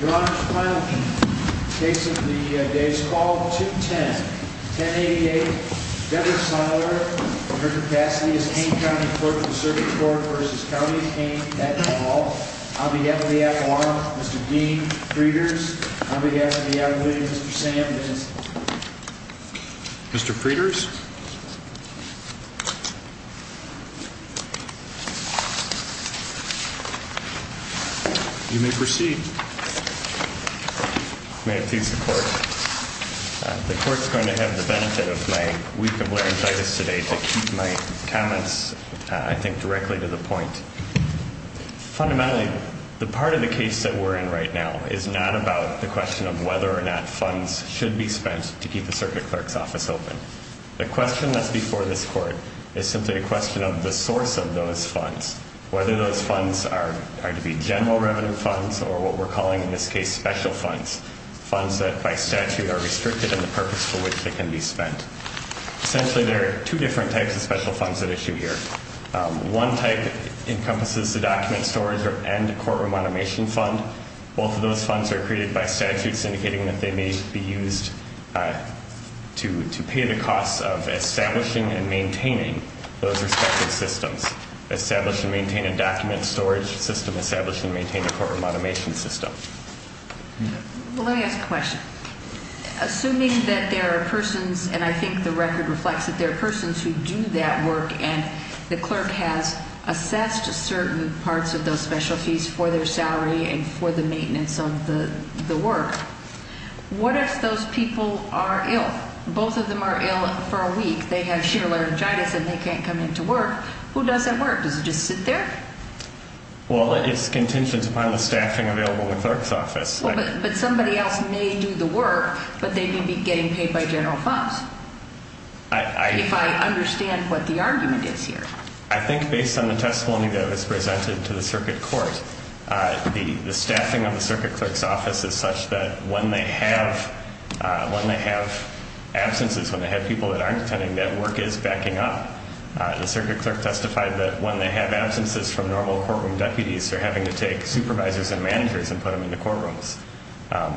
Your Honor, this final case of the day is called 210-1088, Deborah Seyler. Her capacity is Kane County Clerk of the Circuit Court v. County of Kane at the Hall. On behalf of the Avalon, Mr. Dean Frieders. On behalf of the Avalon, Mr. Sam Vincent. Mr. Frieders? Mr. Frieders? You may proceed. May it please the court. The court's going to have the benefit of my week of laryngitis today to keep my comments, I think, directly to the point. Fundamentally, the part of the case that we're in right now is not about the question of whether or not funds should be spent to keep the circuit clerk's office open. The question that's before this court is simply a question of the source of those funds, whether those funds are to be general revenue funds or what we're calling in this case special funds, funds that by statute are restricted in the purpose for which they can be spent. Essentially, there are two different types of special funds at issue here. One type encompasses the document storage and courtroom automation fund. Both of those funds are created by statutes indicating that they may be used to pay the costs of establishing and maintaining those respective systems. Establish and maintain a document storage system, establish and maintain a courtroom automation system. Well, let me ask a question. Assuming that there are persons, and I think the record reflects that there are persons who do that work, and the clerk has assessed certain parts of those special fees for their salary and for the maintenance of the work, what if those people are ill? Both of them are ill for a week. They have shingle laryngitis, and they can't come into work. Who does that work? Does it just sit there? Well, it's contingent upon the staffing available in the clerk's office. But somebody else may do the work, but they may be getting paid by general funds, if I understand what the argument is here. I think based on the testimony that was presented to the circuit court, the staffing of the circuit clerk's office is such that when they have absences, when they have people that aren't attending, that work is backing up. The circuit clerk testified that when they have absences from normal courtroom deputies, they're having to take supervisors and managers and put them in the courtrooms.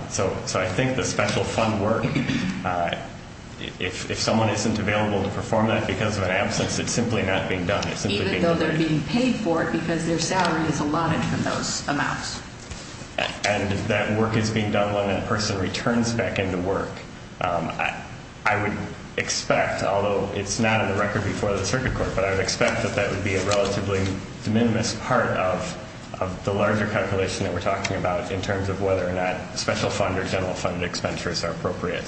So I think the special fund work, if someone isn't available to perform that because of an absence, it's simply not being done. Even though they're being paid for it because their salary is allotted from those amounts. And that work is being done when a person returns back into work. I would expect, although it's not on the record before the circuit court, but I would expect that that would be a relatively de minimis part of the larger calculation that we're talking about in terms of whether or not special fund or general fund expenditures are appropriate.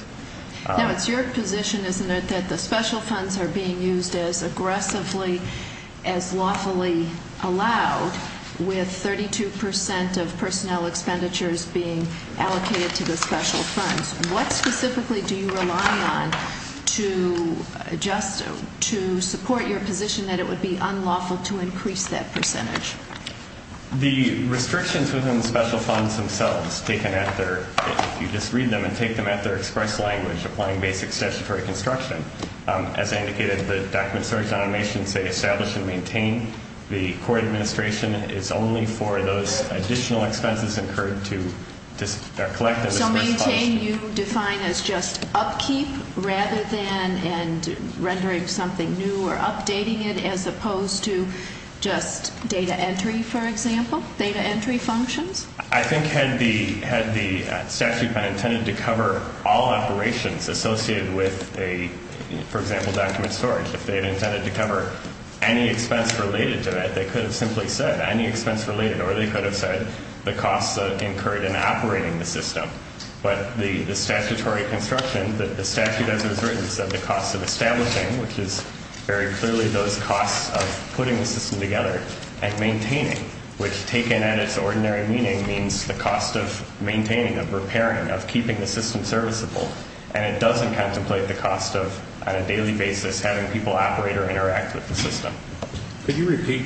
Now it's your position, isn't it, that the special funds are being used as aggressively, as lawfully allowed with 32% of personnel expenditures being allocated to the special funds. What specifically do you rely on to adjust, to support your position that it would be unlawful to increase that percentage? The restrictions within the special funds themselves taken at their, if you just read them and take them at their express language, applying basic statutory construction. As I indicated, the documents on automation say establish and maintain. The court administration is only for those additional expenses incurred to collect. So maintain you define as just upkeep rather than and rendering something new or updating it as opposed to just data entry, for example, data entry functions. I think had the statute been intended to cover all operations associated with a, for example, document storage. If they had intended to cover any expense related to that, they could have simply said any expense related or they could have said the costs incurred in operating the system. But the statutory construction that the statute as it was written said the cost of establishing, which is very clearly those costs of putting the system together and maintaining. Which taken at its ordinary meaning means the cost of maintaining, of repairing, of keeping the system serviceable. And it doesn't contemplate the cost of, on a daily basis, having people operate or interact with the system. Could you repeat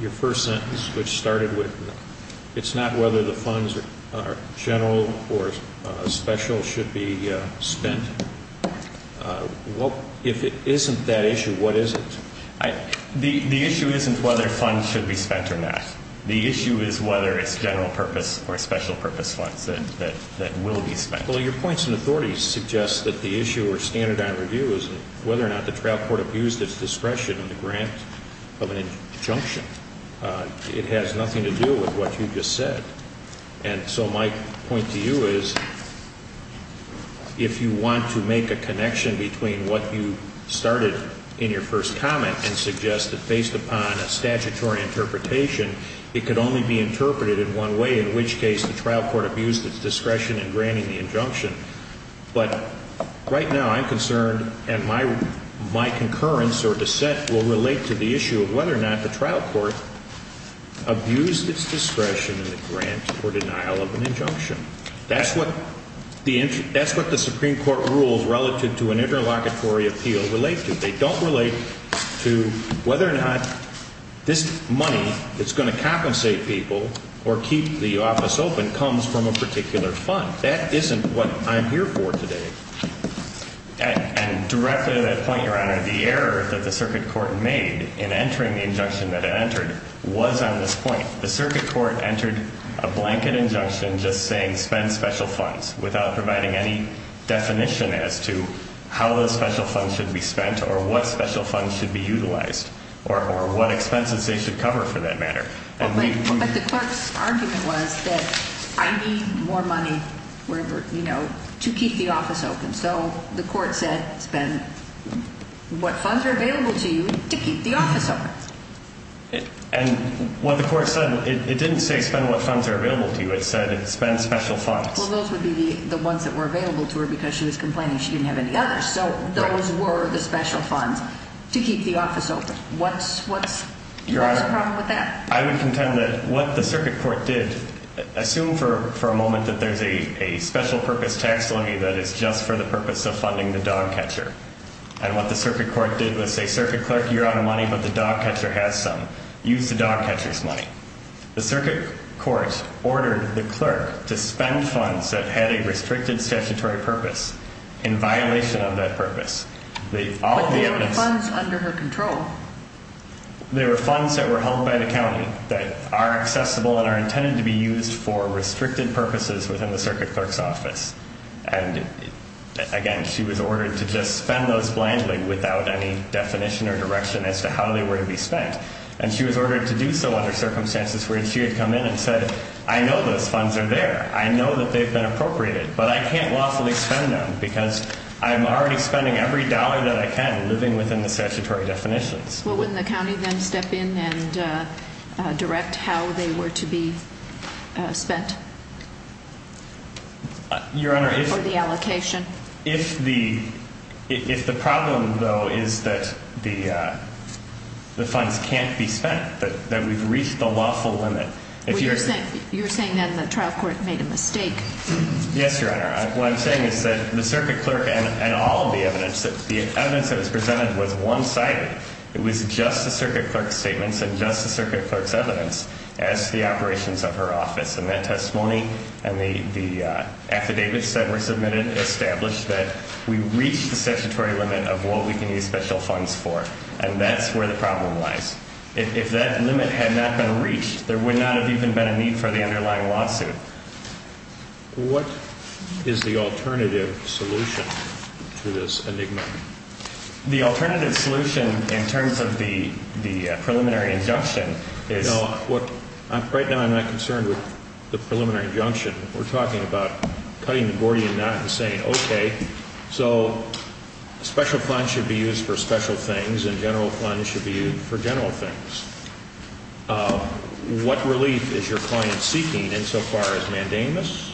your first sentence, which started with, it's not whether the funds are general or special should be spent? Well, if it isn't that issue, what is it? The issue isn't whether funds should be spent or not. The issue is whether it's general purpose or special purpose funds that will be spent. Well, your points and authorities suggest that the issue or standard on review is whether or not the trial court abused its discretion in the grant of an injunction. It has nothing to do with what you just said. And so my point to you is if you want to make a connection between what you started in your first comment and suggest that based upon a statutory interpretation, it could only be interpreted in one way, in which case the trial court abused its discretion in granting the injunction. But right now I'm concerned, and my concurrence or dissent will relate to the issue of whether or not the trial court abused its discretion in the grant or denial of an injunction. That's what the Supreme Court rules relative to an interlocutory appeal relate to. They don't relate to whether or not this money that's going to compensate people or keep the office open comes from a particular fund. That isn't what I'm here for today. And directly to that point, Your Honor, the error that the circuit court made in entering the injunction that it entered was on this point. The circuit court entered a blanket injunction just saying spend special funds without providing any definition as to how those special funds should be spent or what special funds should be utilized or what expenses they should cover for that matter. But the clerk's argument was that I need more money, you know, to keep the office open. So the court said spend what funds are available to you to keep the office open. And what the court said, it didn't say spend what funds are available to you. It said spend special funds. Well, those would be the ones that were available to her because she was complaining she didn't have any others. So those were the special funds to keep the office open. What's the problem with that? Your Honor, I would contend that what the circuit court did, assume for a moment that there's a special purpose tax money that is just for the purpose of funding the dog catcher. And what the circuit court did was say, circuit clerk, you're out of money, but the dog catcher has some. Use the dog catcher's money. The circuit court ordered the clerk to spend funds that had a restricted statutory purpose in violation of that purpose. But there were funds under her control. There were funds that were held by the county that are accessible and are intended to be used for restricted purposes within the circuit clerk's office. And, again, she was ordered to just spend those blindly without any definition or direction as to how they were to be spent. And she was ordered to do so under circumstances where she had come in and said, I know those funds are there. I know that they've been appropriated. But I can't lawfully spend them because I'm already spending every dollar that I can living within the statutory definitions. Well, wouldn't the county then step in and direct how they were to be spent for the allocation? Your Honor, if the problem, though, is that the funds can't be spent, that we've reached the lawful limit. Well, you're saying that the trial court made a mistake. Yes, Your Honor. What I'm saying is that the circuit clerk and all of the evidence, the evidence that was presented was one-sided. It was just the circuit clerk's statements and just the circuit clerk's evidence as to the operations of her office. And that testimony and the affidavits that were submitted established that we reached the statutory limit of what we can use special funds for. And that's where the problem lies. If that limit had not been reached, there would not have even been a need for the underlying lawsuit. What is the alternative solution to this enigma? The alternative solution in terms of the preliminary injunction is- No, right now I'm not concerned with the preliminary injunction. We're talking about cutting the Gordian knot and saying, okay, so special funds should be used for special things and general funds should be used for general things. What relief is your client seeking insofar as mandamus,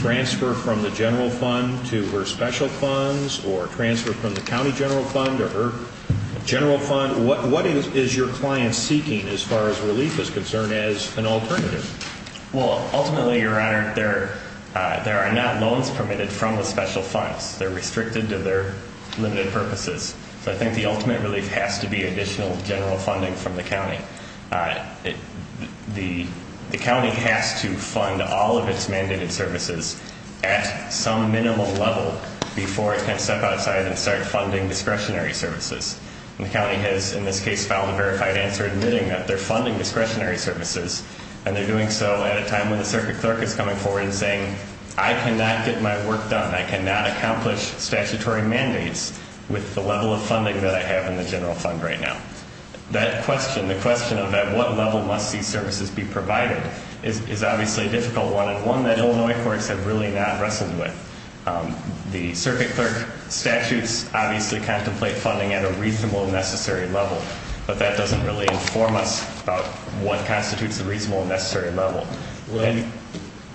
transfer from the general fund to her special funds, or transfer from the county general fund to her general fund? What is your client seeking as far as relief is concerned as an alternative? Well, ultimately, Your Honor, there are not loans permitted from the special funds. They're restricted to their limited purposes. So I think the ultimate relief has to be additional general funding from the county. The county has to fund all of its mandated services at some minimum level before it can step outside and start funding discretionary services. And the county has, in this case, filed a verified answer admitting that they're funding discretionary services. And they're doing so at a time when the circuit clerk is coming forward and saying, I cannot get my work done. I cannot accomplish statutory mandates with the level of funding that I have in the general fund right now. That question, the question of at what level must these services be provided, is obviously a difficult one and one that Illinois courts have really not wrestled with. The circuit clerk statutes obviously contemplate funding at a reasonable and necessary level. But that doesn't really inform us about what constitutes a reasonable and necessary level. Well,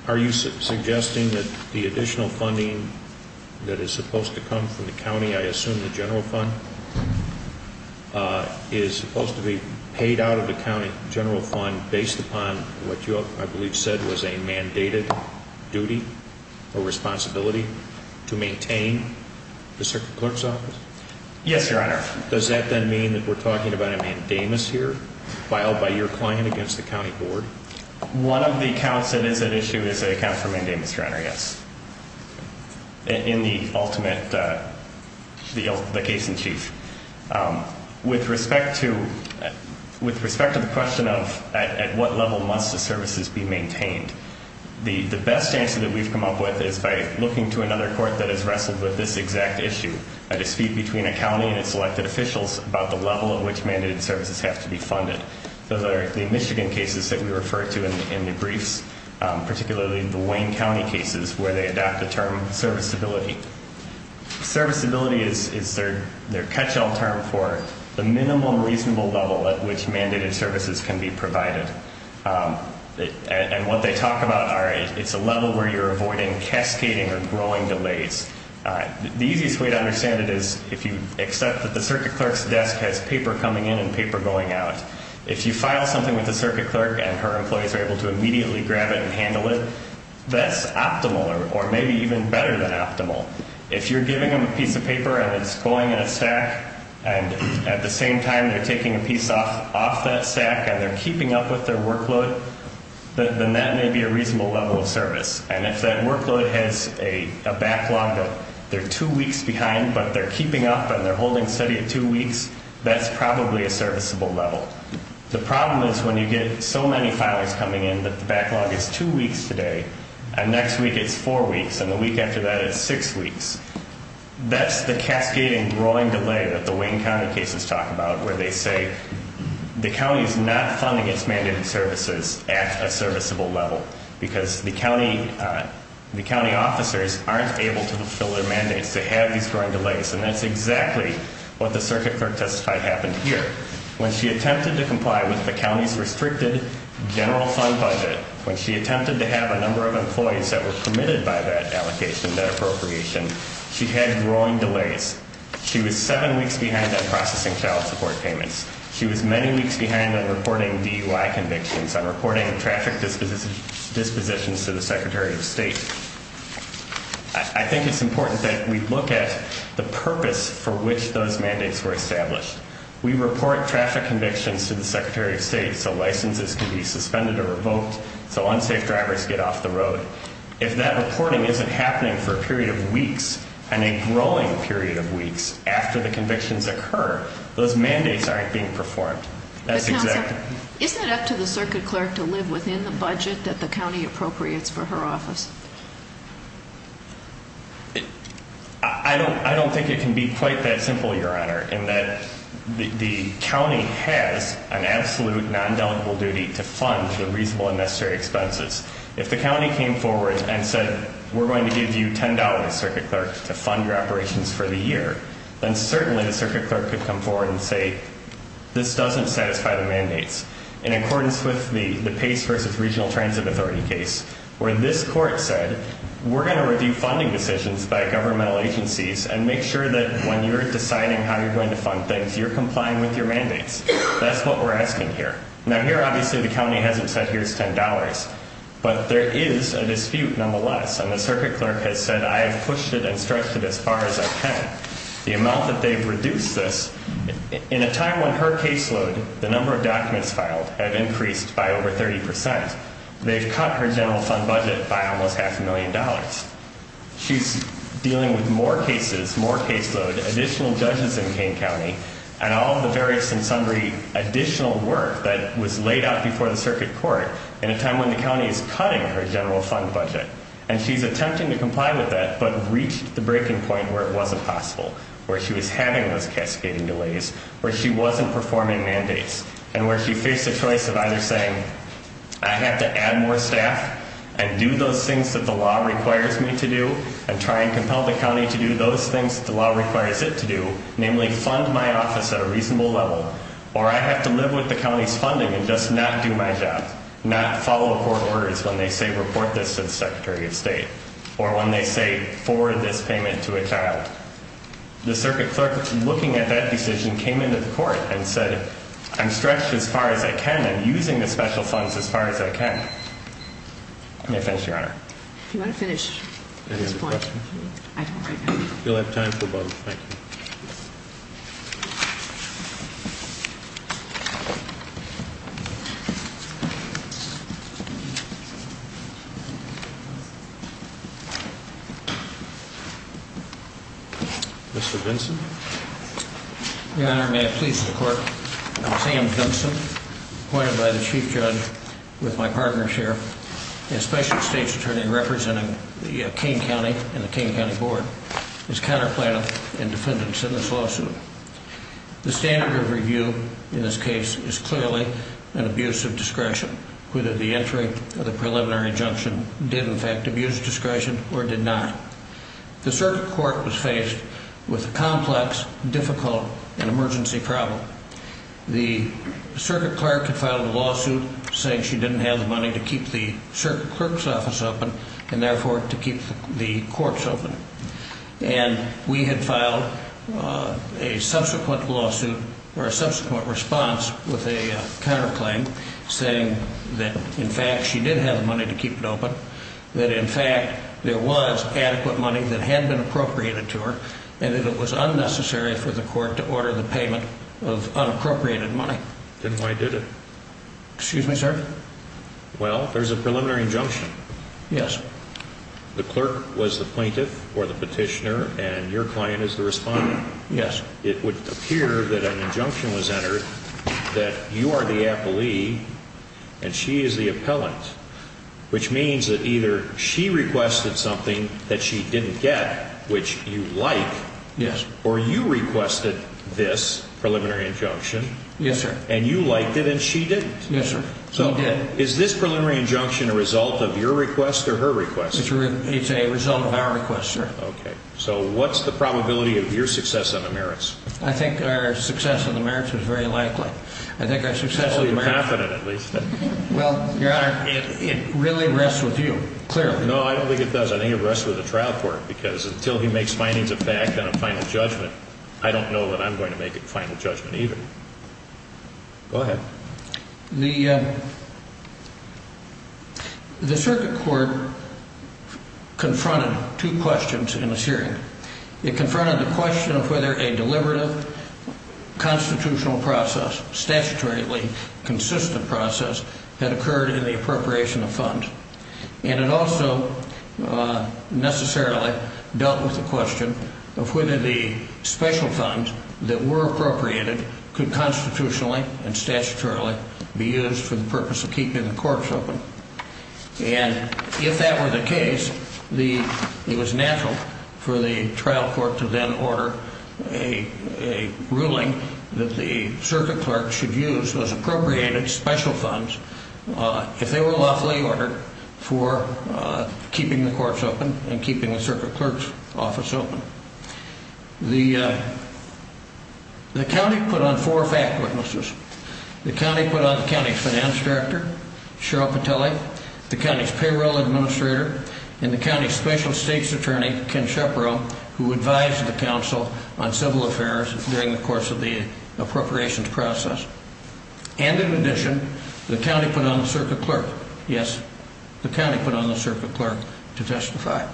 are you suggesting that the additional funding that is supposed to come from the county, I assume the general fund, is supposed to be paid out of the county general fund based upon what you, I believe, said was a mandated duty or responsibility to maintain the circuit clerk's office? Yes, Your Honor. Does that then mean that we're talking about a mandamus here filed by your client against the county board? One of the accounts that is at issue is an account for mandamus, Your Honor, yes. In the ultimate, the case in chief. With respect to, with respect to the question of at what level must the services be maintained, the best answer that we've come up with is by looking to another court that has wrestled with this exact issue. At a speed between a county and its elected officials about the level at which mandated services have to be funded. Those are the Michigan cases that we refer to in the briefs, particularly the Wayne County cases where they adopt the term serviceability. Serviceability is their catch-all term for the minimum reasonable level at which mandated services can be provided. And what they talk about are, it's a level where you're avoiding cascading or growing delays. The easiest way to understand it is if you accept that the circuit clerk's desk has paper coming in and paper going out. If you file something with the circuit clerk and her employees are able to immediately grab it and handle it, that's optimal or maybe even better than optimal. If you're giving them a piece of paper and it's going in a stack and at the same time they're taking a piece off that stack and they're keeping up with their workload, then that may be a reasonable level of service. And if that workload has a backlog that they're two weeks behind but they're keeping up and they're holding steady at two weeks, that's probably a serviceable level. The problem is when you get so many filings coming in that the backlog is two weeks today and next week it's four weeks and the week after that it's six weeks. That's the cascading, growing delay that the Wayne County cases talk about where they say the county is not funding its mandated services at a serviceable level. Because the county officers aren't able to fulfill their mandates. They have these growing delays and that's exactly what the circuit clerk testified happened here. When she attempted to comply with the county's restricted general fund budget, when she attempted to have a number of employees that were permitted by that allocation, that appropriation, she had growing delays. She was seven weeks behind on processing child support payments. She was many weeks behind on reporting DUI convictions, on reporting traffic dispositions to the Secretary of State. I think it's important that we look at the purpose for which those mandates were established. We report traffic convictions to the Secretary of State so licenses can be suspended or revoked, so unsafe drivers get off the road. If that reporting isn't happening for a period of weeks and a growing period of weeks after the convictions occur, those mandates aren't being performed. Isn't it up to the circuit clerk to live within the budget that the county appropriates for her office? I don't think it can be quite that simple, Your Honor, in that the county has an absolute non-delegable duty to fund the reasonable and necessary expenses. If the county came forward and said, we're going to give you $10, circuit clerk, to fund your operations for the year, then certainly the circuit clerk could come forward and say, this doesn't satisfy the mandates. In accordance with the Pace versus Regional Transit Authority case, where this court said, we're going to review funding decisions by governmental agencies and make sure that when you're deciding how you're going to fund things, you're complying with your mandates. That's what we're asking here. Now, here, obviously, the county hasn't said, here's $10. But there is a dispute, nonetheless. And the circuit clerk has said, I have pushed it and stretched it as far as I can. The amount that they've reduced this, in a time when her caseload, the number of documents filed, have increased by over 30%, they've cut her general fund budget by almost half a million dollars. She's dealing with more cases, more caseload, additional judges in Kane County, and all the various and sundry additional work that was laid out before the circuit court in a time when the county is cutting her general fund budget. And she's attempting to comply with that, but reached the breaking point where it wasn't possible, where she was having those cascading delays, where she wasn't performing mandates. And where she faced a choice of either saying, I have to add more staff and do those things that the law requires me to do, and try and compel the county to do those things that the law requires it to do, namely fund my office at a reasonable level. Or I have to live with the county's funding and just not do my job, not follow court orders when they say report this to the Secretary of State, or when they say forward this payment to a child. The circuit clerk, looking at that decision, came into the court and said, I'm stretched as far as I can. I'm using the special funds as far as I can. Let me finish, Your Honor. Do you want to finish at this point? Any other questions? I don't right now. You'll have time for both. Thank you. Mr. Benson. Your Honor, may I please the court? I'm Sam Benson, appointed by the chief judge with my partner, Sheriff, and special state's attorney representing the King County and the King County board. It's counter plaintiff and defendants in this lawsuit. The standard of review in this case is clearly an abuse of discretion, whether the entry of the preliminary injunction did in fact abuse discretion or did not. The circuit court was faced with a complex, difficult, and emergency problem. The circuit clerk had filed a lawsuit saying she didn't have the money to keep the circuit clerk's office open and therefore to keep the courts open. And we had filed a subsequent lawsuit or a subsequent response with a counterclaim saying that, in fact, she did have the money to keep it open, that, in fact, there was adequate money that had been appropriated to her, and that it was unnecessary for the court to order the payment of unappropriated money. Then why did it? Excuse me, sir? Well, there's a preliminary injunction. Yes. The clerk was the plaintiff or the petitioner and your client is the respondent. Yes. It would appear that an injunction was entered that you are the appellee and she is the appellant, which means that either she requested something that she didn't get, which you like, or you requested this preliminary injunction. Yes, sir. And you liked it and she didn't. Yes, sir. So is this preliminary injunction a result of your request or her request? It's a result of our request, sir. Okay. So what's the probability of your success on the merits? I think our success on the merits is very likely. I think our success on the merits... Well, you're confident, at least. Well, Your Honor, it really rests with you, clearly. No, I don't think it does. I think it rests with the trial court because until he makes findings of fact and a final judgment, I don't know that I'm going to make a final judgment either. Go ahead. The circuit court confronted two questions in this hearing. It confronted the question of whether a deliberative constitutional process, statutorily consistent process, had occurred in the appropriation of funds. And it also necessarily dealt with the question of whether the special funds that were appropriated could constitutionally and statutorily be used for the purpose of keeping the courts open. And if that were the case, it was natural for the trial court to then order a ruling that the circuit clerk should use those appropriated special funds, if they were lawfully ordered, for keeping the courts open and keeping the circuit clerk's office open. The county put on four fact witnesses. The county put on the county's finance director, Cheryl Petelli, the county's payroll administrator, and the county's special stakes attorney, Ken Shapiro, who advised the council on civil affairs during the course of the appropriations process. And in addition, the county put on the circuit clerk. Yes, the county put on the circuit clerk to testify.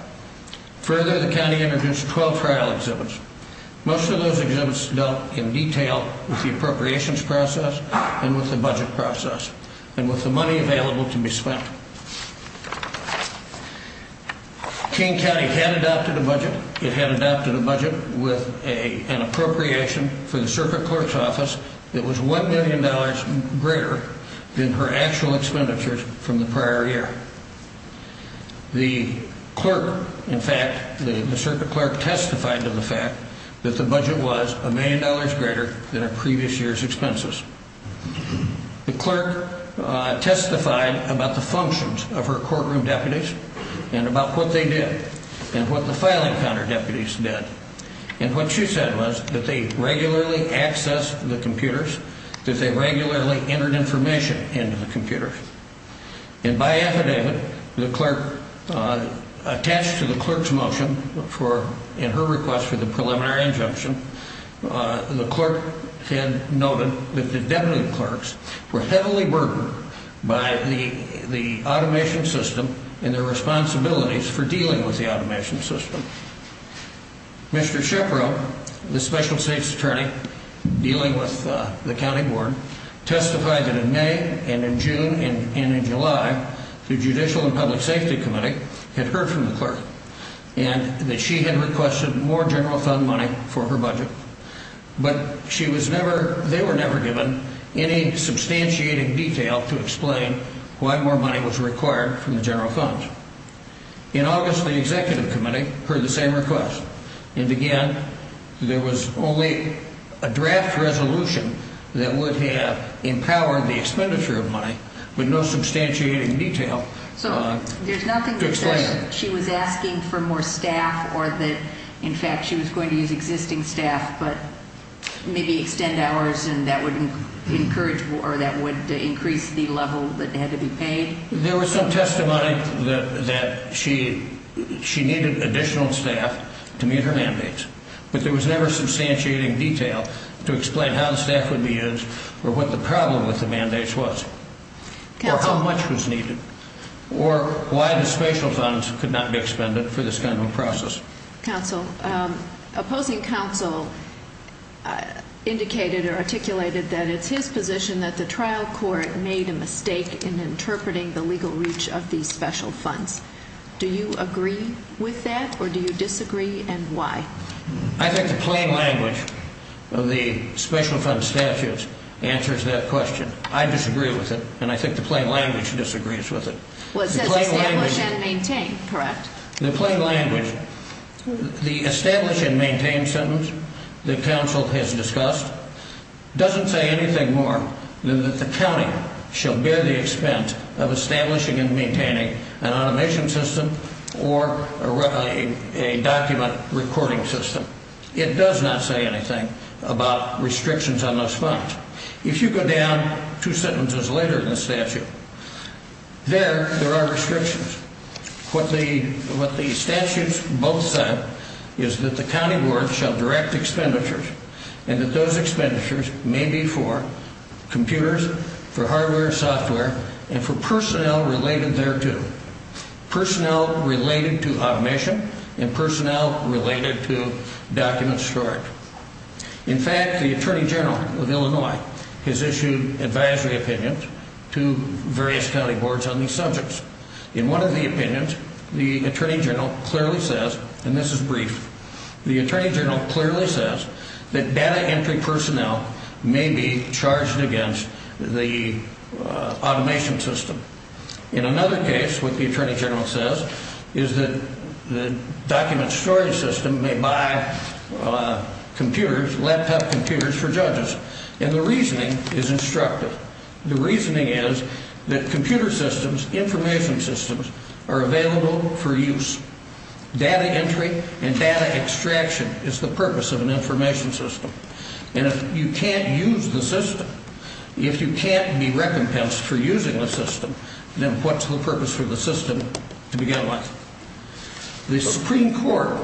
Further, the county introduced 12 trial exhibits. Most of those exhibits dealt in detail with the appropriations process and with the budget process and with the money available to be spent. King County had adopted a budget. It had adopted a budget with an appropriation for the circuit clerk's office that was $1 million greater than her actual expenditures from the prior year. The clerk, in fact, the circuit clerk testified to the fact that the budget was $1 million greater than her previous year's expenses. The clerk testified about the functions of her courtroom deputies and about what they did and what the filing counter deputies did. And what she said was that they regularly accessed the computers, that they regularly entered information into the computers. And by affidavit, the clerk attached to the clerk's motion in her request for the preliminary injunction, the clerk had noted that the deputy clerks were heavily burdened by the automation system and their responsibilities for dealing with the automation system. Mr. Shepard, the special state's attorney dealing with the county board, testified that in May and in June and in July, the Judicial and Public Safety Committee had heard from the clerk and that she had requested more general fund money for her budget. But she was never, they were never given any substantiating detail to explain why more money was required from the general funds. In August, the Executive Committee heard the same request, and again, there was only a draft resolution that would have empowered the expenditure of money, but no substantiating detail to explain it. So there's nothing that says she was asking for more staff or that, in fact, she was going to use existing staff, but maybe extend hours and that would encourage, or that would increase the level that had to be paid? There was some testimony that she needed additional staff to meet her mandates, but there was never substantiating detail to explain how the staff would be used or what the problem with the mandates was, or how much was needed, or why the special funds could not be expended for this kind of a process. Counsel, opposing counsel indicated or articulated that it's his position that the trial court made a mistake in interpreting the legal reach of these special funds. Do you agree with that, or do you disagree, and why? I think the plain language of the special fund statutes answers that question. I disagree with it, and I think the plain language disagrees with it. Well, it says establish and maintain, correct? The plain language, the establish and maintain sentence that counsel has discussed doesn't say anything more than that the county shall bear the expense of establishing and maintaining an automation system or a document recording system. It does not say anything about restrictions on those funds. If you go down two sentences later in the statute, there are restrictions. What the statutes both said is that the county board shall direct expenditures, and that those expenditures may be for computers, for hardware and software, and for personnel related thereto. Personnel related to automation and personnel related to document storage. In fact, the Attorney General of Illinois has issued advisory opinions to various county boards on these subjects. In one of the opinions, the Attorney General clearly says, and this is brief, the Attorney General clearly says that data entry personnel may be charged against the automation system. In another case, what the Attorney General says is that the document storage system may buy computers, laptop computers for judges, and the reasoning is instructive. The reasoning is that computer systems, information systems, are available for use. Data entry and data extraction is the purpose of an information system. And if you can't use the system, if you can't be recompensed for using the system, then what's the purpose for the system to begin with? The Supreme Court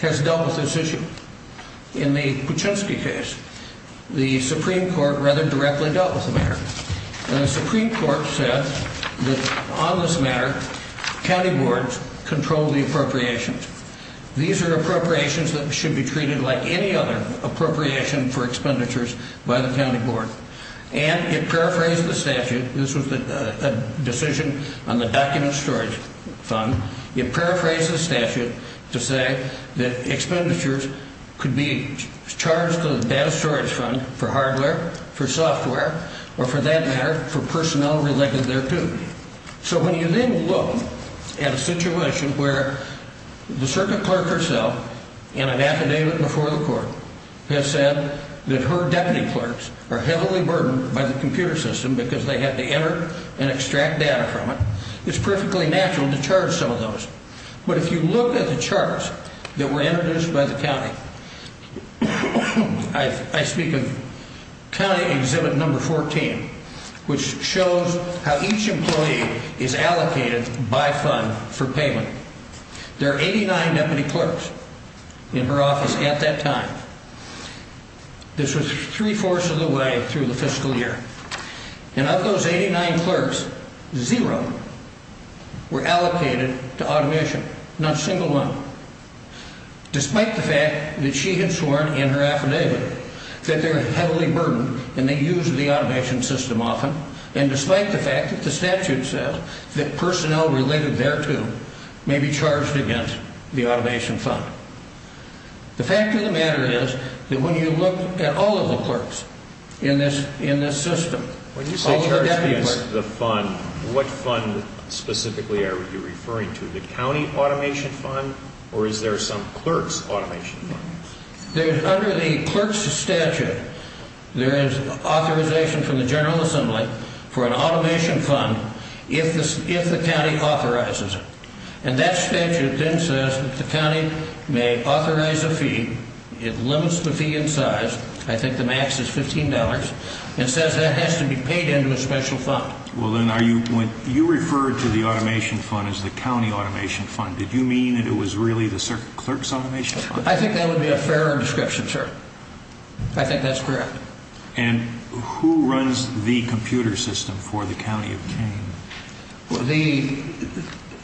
has dealt with this issue. In the Puchinski case, the Supreme Court rather directly dealt with the matter. The Supreme Court said that on this matter, county boards control the appropriations. These are appropriations that should be treated like any other appropriation for expenditures by the county board. And it paraphrased the statute. This was a decision on the document storage fund. It paraphrased the statute to say that expenditures could be charged to the data storage fund for hardware, for software, or for that matter, for personnel related thereto. So when you then look at a situation where the circuit clerk herself, and an affidavit before the court, has said that her deputy clerks are heavily burdened by the computer system because they have to enter and extract data from it, it's perfectly natural to charge some of those. But if you look at the charts that were introduced by the county, I speak of county exhibit number 14, which shows how each employee is allocated by fund for payment. There are 89 deputy clerks in her office at that time. This was three-fourths of the way through the fiscal year. And of those 89 clerks, zero were allocated to automation. Not a single one. Despite the fact that she had sworn in her affidavit that they're heavily burdened and they use the automation system often, and despite the fact that the statute says that personnel related thereto may be charged against the automation fund. The fact of the matter is that when you look at all of the clerks in this system, all of the deputy clerks... When you say charged against the fund, what fund specifically are you referring to? The county automation fund, or is there some clerk's automation fund? Under the clerk's statute, there is authorization from the General Assembly for an automation fund if the county authorizes it. And that statute then says that the county may authorize a fee, it limits the fee in size, I think the max is $15, and says that has to be paid into a special fund. Well then, when you referred to the automation fund as the county automation fund, did you mean that it was really the clerk's automation fund? I think that would be a fairer description, sir. I think that's correct. And who runs the computer system for the county of Kane?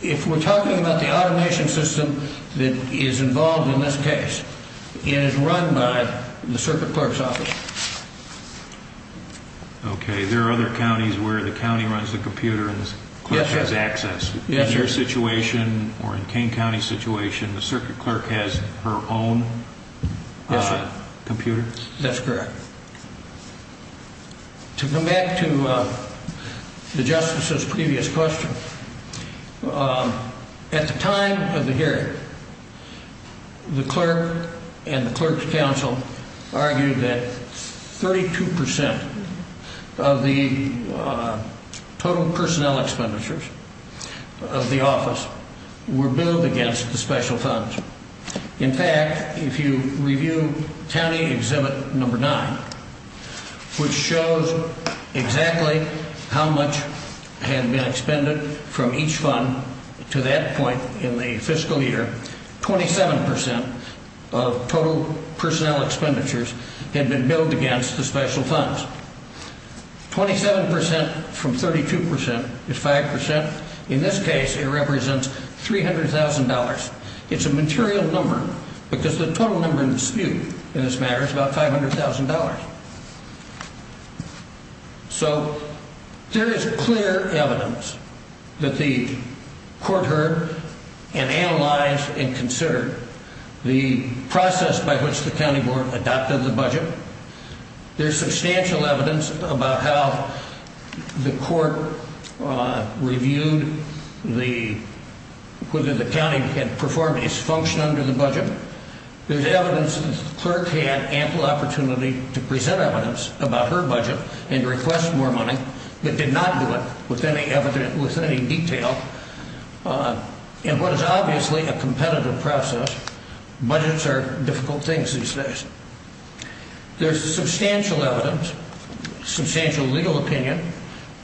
If we're talking about the automation system that is involved in this case, it is run by the circuit clerk's office. Okay, there are other counties where the county runs the computer and the clerk has access. In your situation, or in Kane County's situation, the circuit clerk has her own computer? That's correct. To come back to the Justice's previous question, at the time of the hearing, the clerk and the clerk's counsel argued that 32% of the total personnel expenditures of the office were billed against the special funds. In fact, if you review County Exhibit No. 9, which shows exactly how much had been expended from each fund to that point in the fiscal year, 27% of total personnel expenditures had been billed against the special funds. 27% from 32% is 5%. In this case, it represents $300,000. It's a material number because the total number in dispute in this matter is about $500,000. So there is clear evidence that the court heard and analyzed and considered the process by which the county board adopted the budget. There's substantial evidence about how the court reviewed whether the county had performed its function under the budget. There's evidence that the clerk had ample opportunity to present evidence about her budget and request more money, but did not do it with any detail. In what is obviously a competitive process, budgets are difficult things these days. There's substantial evidence, substantial legal opinion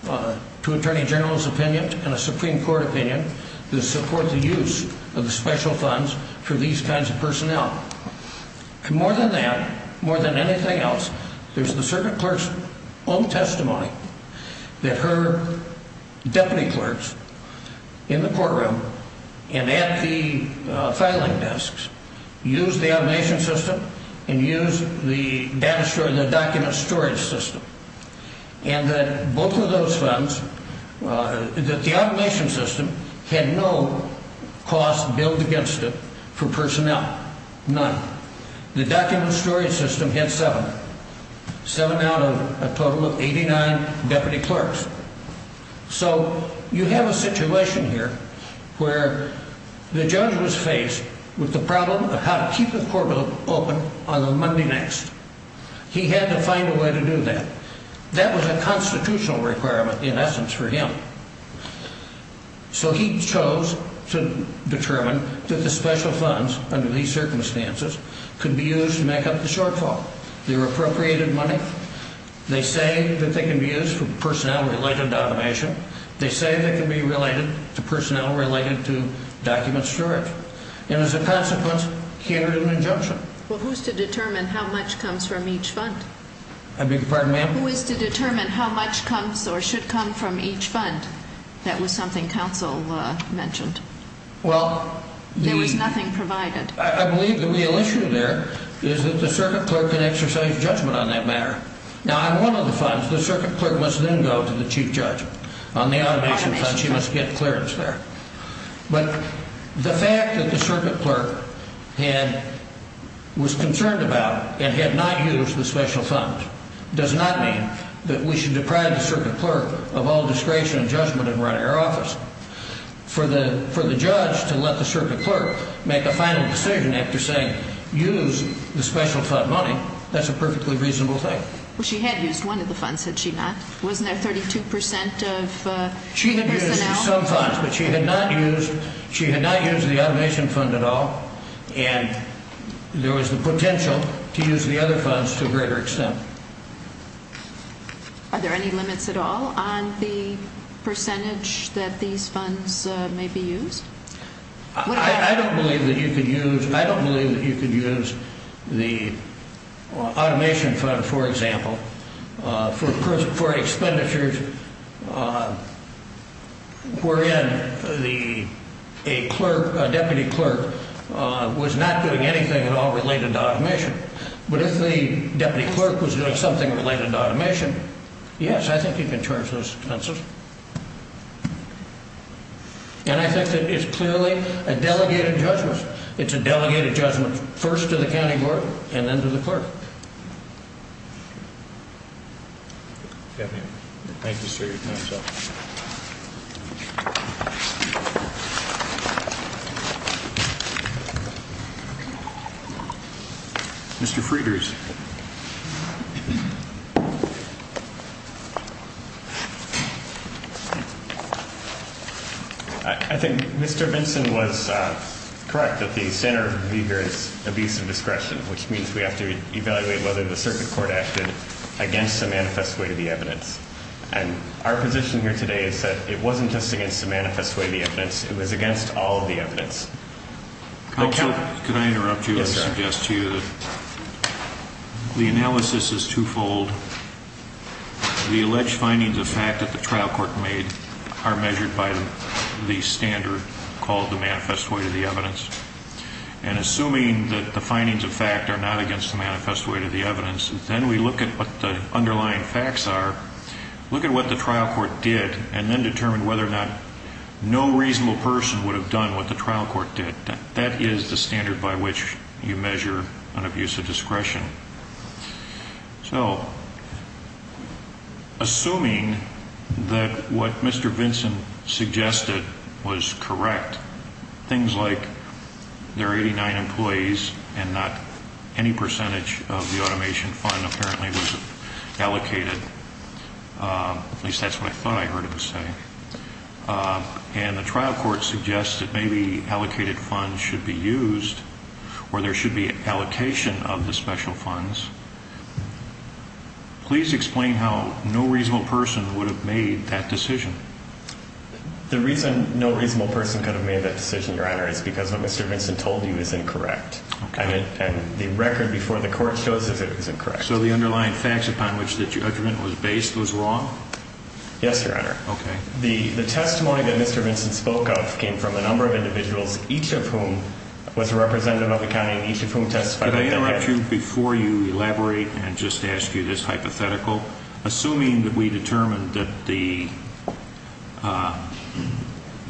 to Attorney General's opinion and a Supreme Court opinion to support the use of the special funds for these kinds of personnel. More than that, more than anything else, there's the circuit clerk's own testimony that her deputy clerks in the courtroom and at the filing desks used the automation system and used the document storage system. And that both of those funds, that the automation system had no cost billed against it for personnel, none. The document storage system had seven, seven out of a total of 89 deputy clerks. So you have a situation here where the judge was faced with the problem of how to keep the courtroom open on the Monday next. He had to find a way to do that. That was a constitutional requirement in essence for him. So he chose to determine that the special funds under these circumstances could be used to make up the shortfall. They were appropriated money. They say that they can be used for personnel related to automation. They say they can be related to personnel related to document storage. And as a consequence, he entered an injunction. Well, who's to determine how much comes from each fund? I beg your pardon, ma'am? Who is to determine how much comes or should come from each fund? That was something counsel mentioned. Well, the... There was nothing provided. I believe the real issue there is that the circuit clerk can exercise judgment on that matter. Now, on one of the funds, the circuit clerk must then go to the chief judge. On the automation fund, she must get clearance there. But the fact that the circuit clerk was concerned about and had not used the special funds does not mean that we should deprive the circuit clerk of all discretion and judgment in running our office. For the judge to let the circuit clerk make a final decision after saying, use the special fund money, that's a perfectly reasonable thing. Well, she had used one of the funds, had she not? Wasn't there 32% of personnel? She had used some funds, but she had not used the automation fund at all. And there was the potential to use the other funds to a greater extent. Are there any limits at all on the percentage that these funds may be used? I don't believe that you could use the automation fund, for example, for expenditures wherein a clerk, a deputy clerk, was not doing anything at all related to automation. But if the deputy clerk was doing something related to automation, yes, I think you can charge those expenses. And I think that it's clearly a delegated judgment. It's a delegated judgment first to the county court and then to the clerk. Thank you, sir. Thank you, counsel. Mr. Frieders. I think Mr. Vinson was correct that the center of vigor is abuse of discretion, which means we have to evaluate whether the circuit court acted against the manifest way of the evidence. And our position here today is that it wasn't just against the manifest way of the evidence. It was against all of the evidence. Counsel, could I interrupt you and suggest to you that the analysis is twofold. The alleged findings of fact that the trial court made are measured by the standard called the manifest way of the evidence. And assuming that the findings of fact are not against the manifest way of the evidence, then we look at what the underlying facts are, look at what the trial court did, and then determine whether or not no reasonable person would have done what the trial court did. That is the standard by which you measure an abuse of discretion. So, assuming that what Mr. Vinson suggested was correct, things like there are 89 employees and not any percentage of the automation fund apparently was allocated. At least that's what I thought I heard him say. And the trial court suggests that maybe allocated funds should be used or there should be allocation of the special funds. Please explain how no reasonable person would have made that decision. The reason no reasonable person could have made that decision, Your Honor, is because what Mr. Vinson told you is incorrect. And the record before the court shows it is incorrect. So the underlying facts upon which the judgment was based was wrong? Yes, Your Honor. Okay. The testimony that Mr. Vinson spoke of came from a number of individuals, each of whom was a representative of the county and each of whom testified. Could I interrupt you before you elaborate and just ask you this hypothetical? Assuming that we determined that the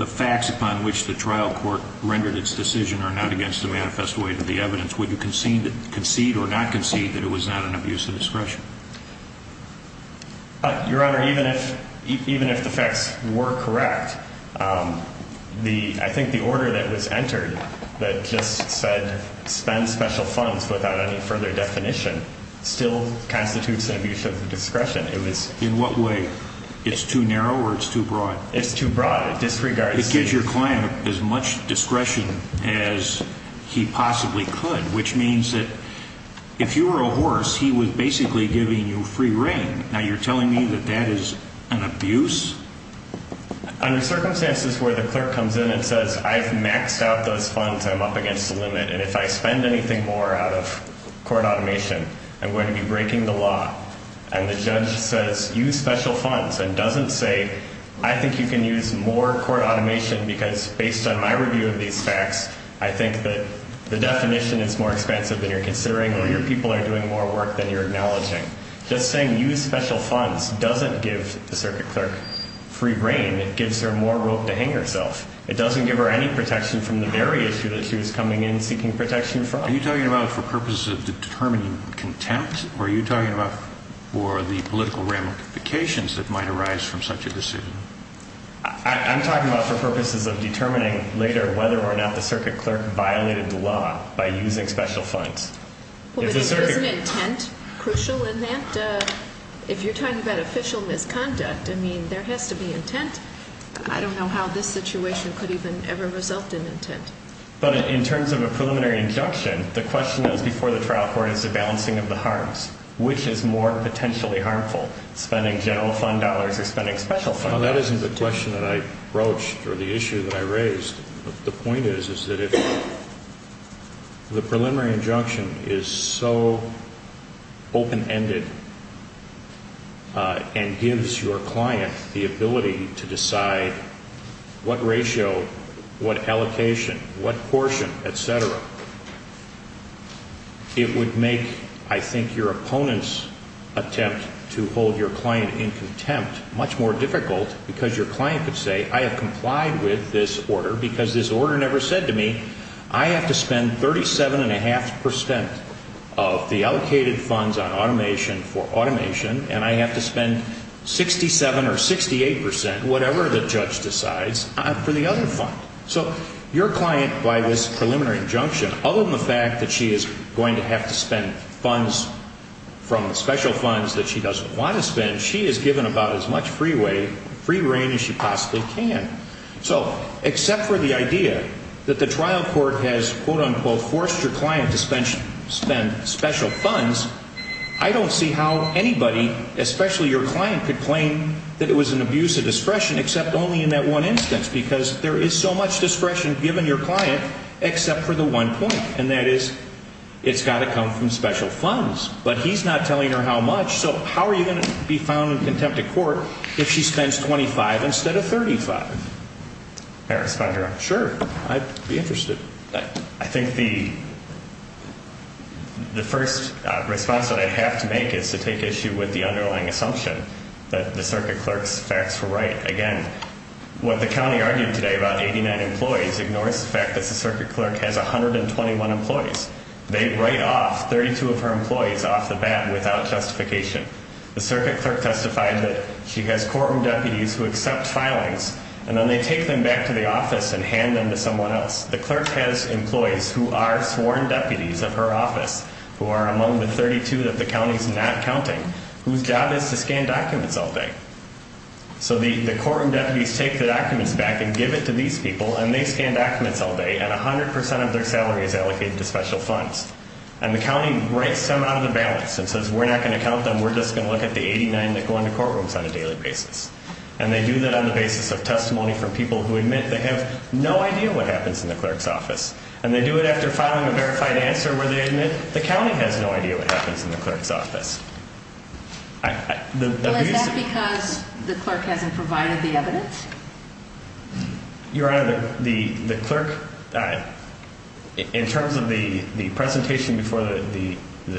facts upon which the trial court rendered its decision are not against the manifest way of the evidence, would you concede or not concede that it was not an abuse of discretion? Your Honor, even if the facts were correct, I think the order that was entered that just said spend special funds without any further definition still constitutes an abuse of discretion. In what way? It's too narrow or it's too broad? It's too broad. It gives your client as much discretion as he possibly could, which means that if you were a horse, he was basically giving you free rein. Now you're telling me that that is an abuse? Under circumstances where the clerk comes in and says I've maxed out those funds, I'm up against the limit, and if I spend anything more out of court automation, I'm going to be breaking the law. And the judge says use special funds and doesn't say I think you can use more court automation because based on my review of these facts, I think that the definition is more expensive than you're considering or your people are doing more work than you're acknowledging. Just saying use special funds doesn't give the circuit clerk free rein. It gives her more rope to hang herself. It doesn't give her any protection from the very issue that she was coming in seeking protection from. Are you talking about for purposes of determining contempt or are you talking about for the political ramifications that might arise from such a decision? I'm talking about for purposes of determining later whether or not the circuit clerk violated the law by using special funds. Well, but isn't intent crucial in that? If you're talking about official misconduct, I mean, there has to be intent. I don't know how this situation could even ever result in intent. But in terms of a preliminary injunction, the question is before the trial court is the balancing of the harms. Which is more potentially harmful, spending general fund dollars or spending special funds? That isn't the question that I broached or the issue that I raised. The point is that if the preliminary injunction is so open-ended and gives your client the ability to decide what ratio, what allocation, what portion, et cetera, it would make I think your opponent's attempt to hold your client in contempt much more difficult because your client could say I have complied with this order because this order never said to me I have to spend 37.5 percent of the allocated funds on automation for automation and I have to spend 67 or 68 percent, whatever the judge decides, for the other fund. So your client, by this preliminary injunction, other than the fact that she is going to have to spend funds from special funds that she doesn't want to spend, she is given about as much free reign as she possibly can. So except for the idea that the trial court has quote-unquote forced your client to spend special funds, I don't see how anybody, especially your client, could claim that it was an abuse of discretion except only in that one instance because there is so much discretion given your client except for the one point and that is it's got to come from special funds. But he's not telling her how much, so how are you going to be found in contempt of court if she spends 25 instead of 35? May I respond, Your Honor? Sure. I'd be interested. I think the first response that I'd have to make is to take issue with the underlying assumption that the circuit clerk's facts were right. Again, what the county argued today about 89 employees ignores the fact that the circuit clerk has 121 employees. They write off 32 of her employees off the bat without justification. The circuit clerk testified that she has courtroom deputies who accept filings and then they take them back to the office and hand them to someone else. The clerk has employees who are sworn deputies of her office, who are among the 32 of the counties not counting, whose job is to scan documents all day. So the courtroom deputies take the documents back and give it to these people and they scan documents all day and 100% of their salary is allocated to special funds. And the county writes some out of the balance and says we're not going to count them, we're just going to look at the 89 that go into courtrooms on a daily basis. And they do that on the basis of testimony from people who admit they have no idea what happens in the clerk's office. And they do it after filing a verified answer where they admit the county has no idea what happens in the clerk's office. Is that because the clerk hasn't provided the evidence? Your Honor, the clerk, in terms of the presentation before the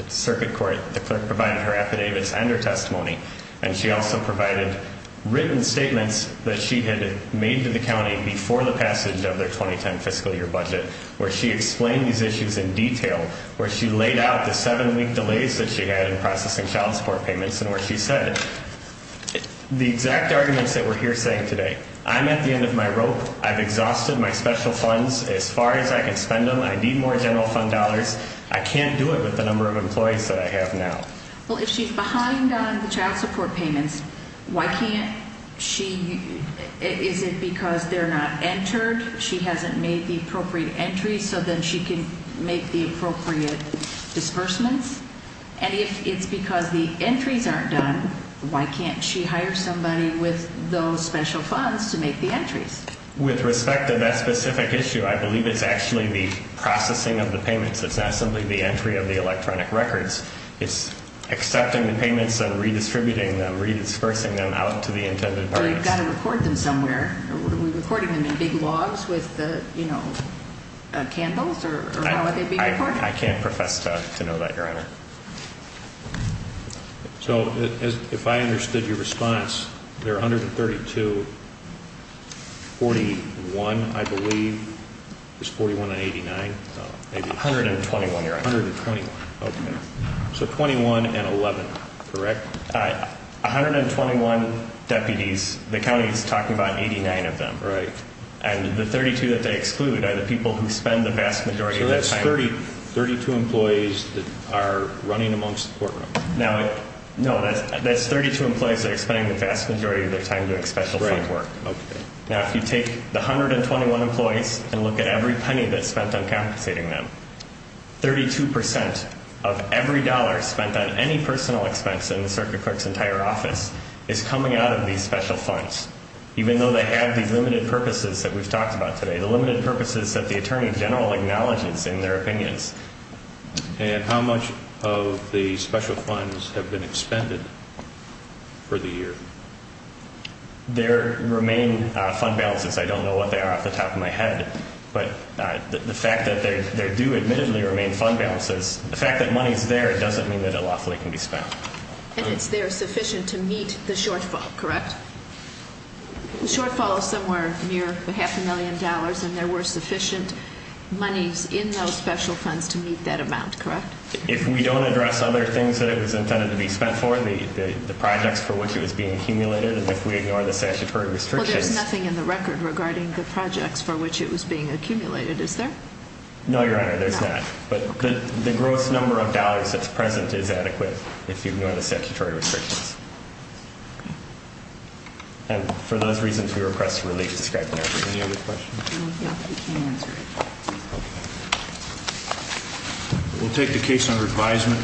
circuit court, the clerk provided her affidavits and her testimony. And she also provided written statements that she had made to the county before the passage of their 2010 fiscal year budget where she explained these issues in detail. Where she laid out the seven week delays that she had in processing child support payments and where she said the exact arguments that we're here saying today. I'm at the end of my rope. I've exhausted my special funds as far as I can spend them. I need more general fund dollars. I can't do it with the number of employees that I have now. Well, if she's behind on the child support payments, why can't she, is it because they're not entered? She hasn't made the appropriate entries so that she can make the appropriate disbursements? And if it's because the entries aren't done, why can't she hire somebody with those special funds to make the entries? With respect to that specific issue, I believe it's actually the processing of the payments. It's not simply the entry of the electronic records. It's accepting the payments and redistributing them, redisbursing them out to the intended parties. Well, you've got to record them somewhere. Are we recording them in big logs with the, you know, candles? Or how are they being recorded? I can't profess to know that, Your Honor. So, if I understood your response, there are 132, 41, I believe, is 41 and 89? 121, Your Honor. 121. Okay. So, 21 and 11, correct? 121 deputies. The county is talking about 89 of them. Right. And the 32 that they exclude are the people who spend the vast majority of their time. So that's 32 employees that are running amongst the courtroom. No, that's 32 employees that are spending the vast majority of their time doing special fund work. Okay. Now, if you take the 121 employees and look at every penny that's spent on compensating them, 32% of every dollar spent on any personal expense in the Circuit Court's entire office is coming out of these special funds, even though they have these limited purposes that we've talked about today, the limited purposes that the Attorney General acknowledges in their opinions. And how much of the special funds have been expended for the year? There remain fund balances. I don't know what they are off the top of my head, but the fact that there do admittedly remain fund balances, the fact that money's there doesn't mean that it lawfully can be spent. And it's there sufficient to meet the shortfall, correct? The shortfall is somewhere near half a million dollars, and there were sufficient monies in those special funds to meet that amount, correct? If we don't address other things that it was intended to be spent for, the projects for which it was being accumulated, and if we ignore the statutory restrictions. Well, there's nothing in the record regarding the projects for which it was being accumulated, is there? No, Your Honor, there's not. Okay. But the gross number of dollars that's present is adequate if you ignore the statutory restrictions. Okay. And for those reasons, we request a relief to Scribner. Any other questions? No. We'll take the case under advisement.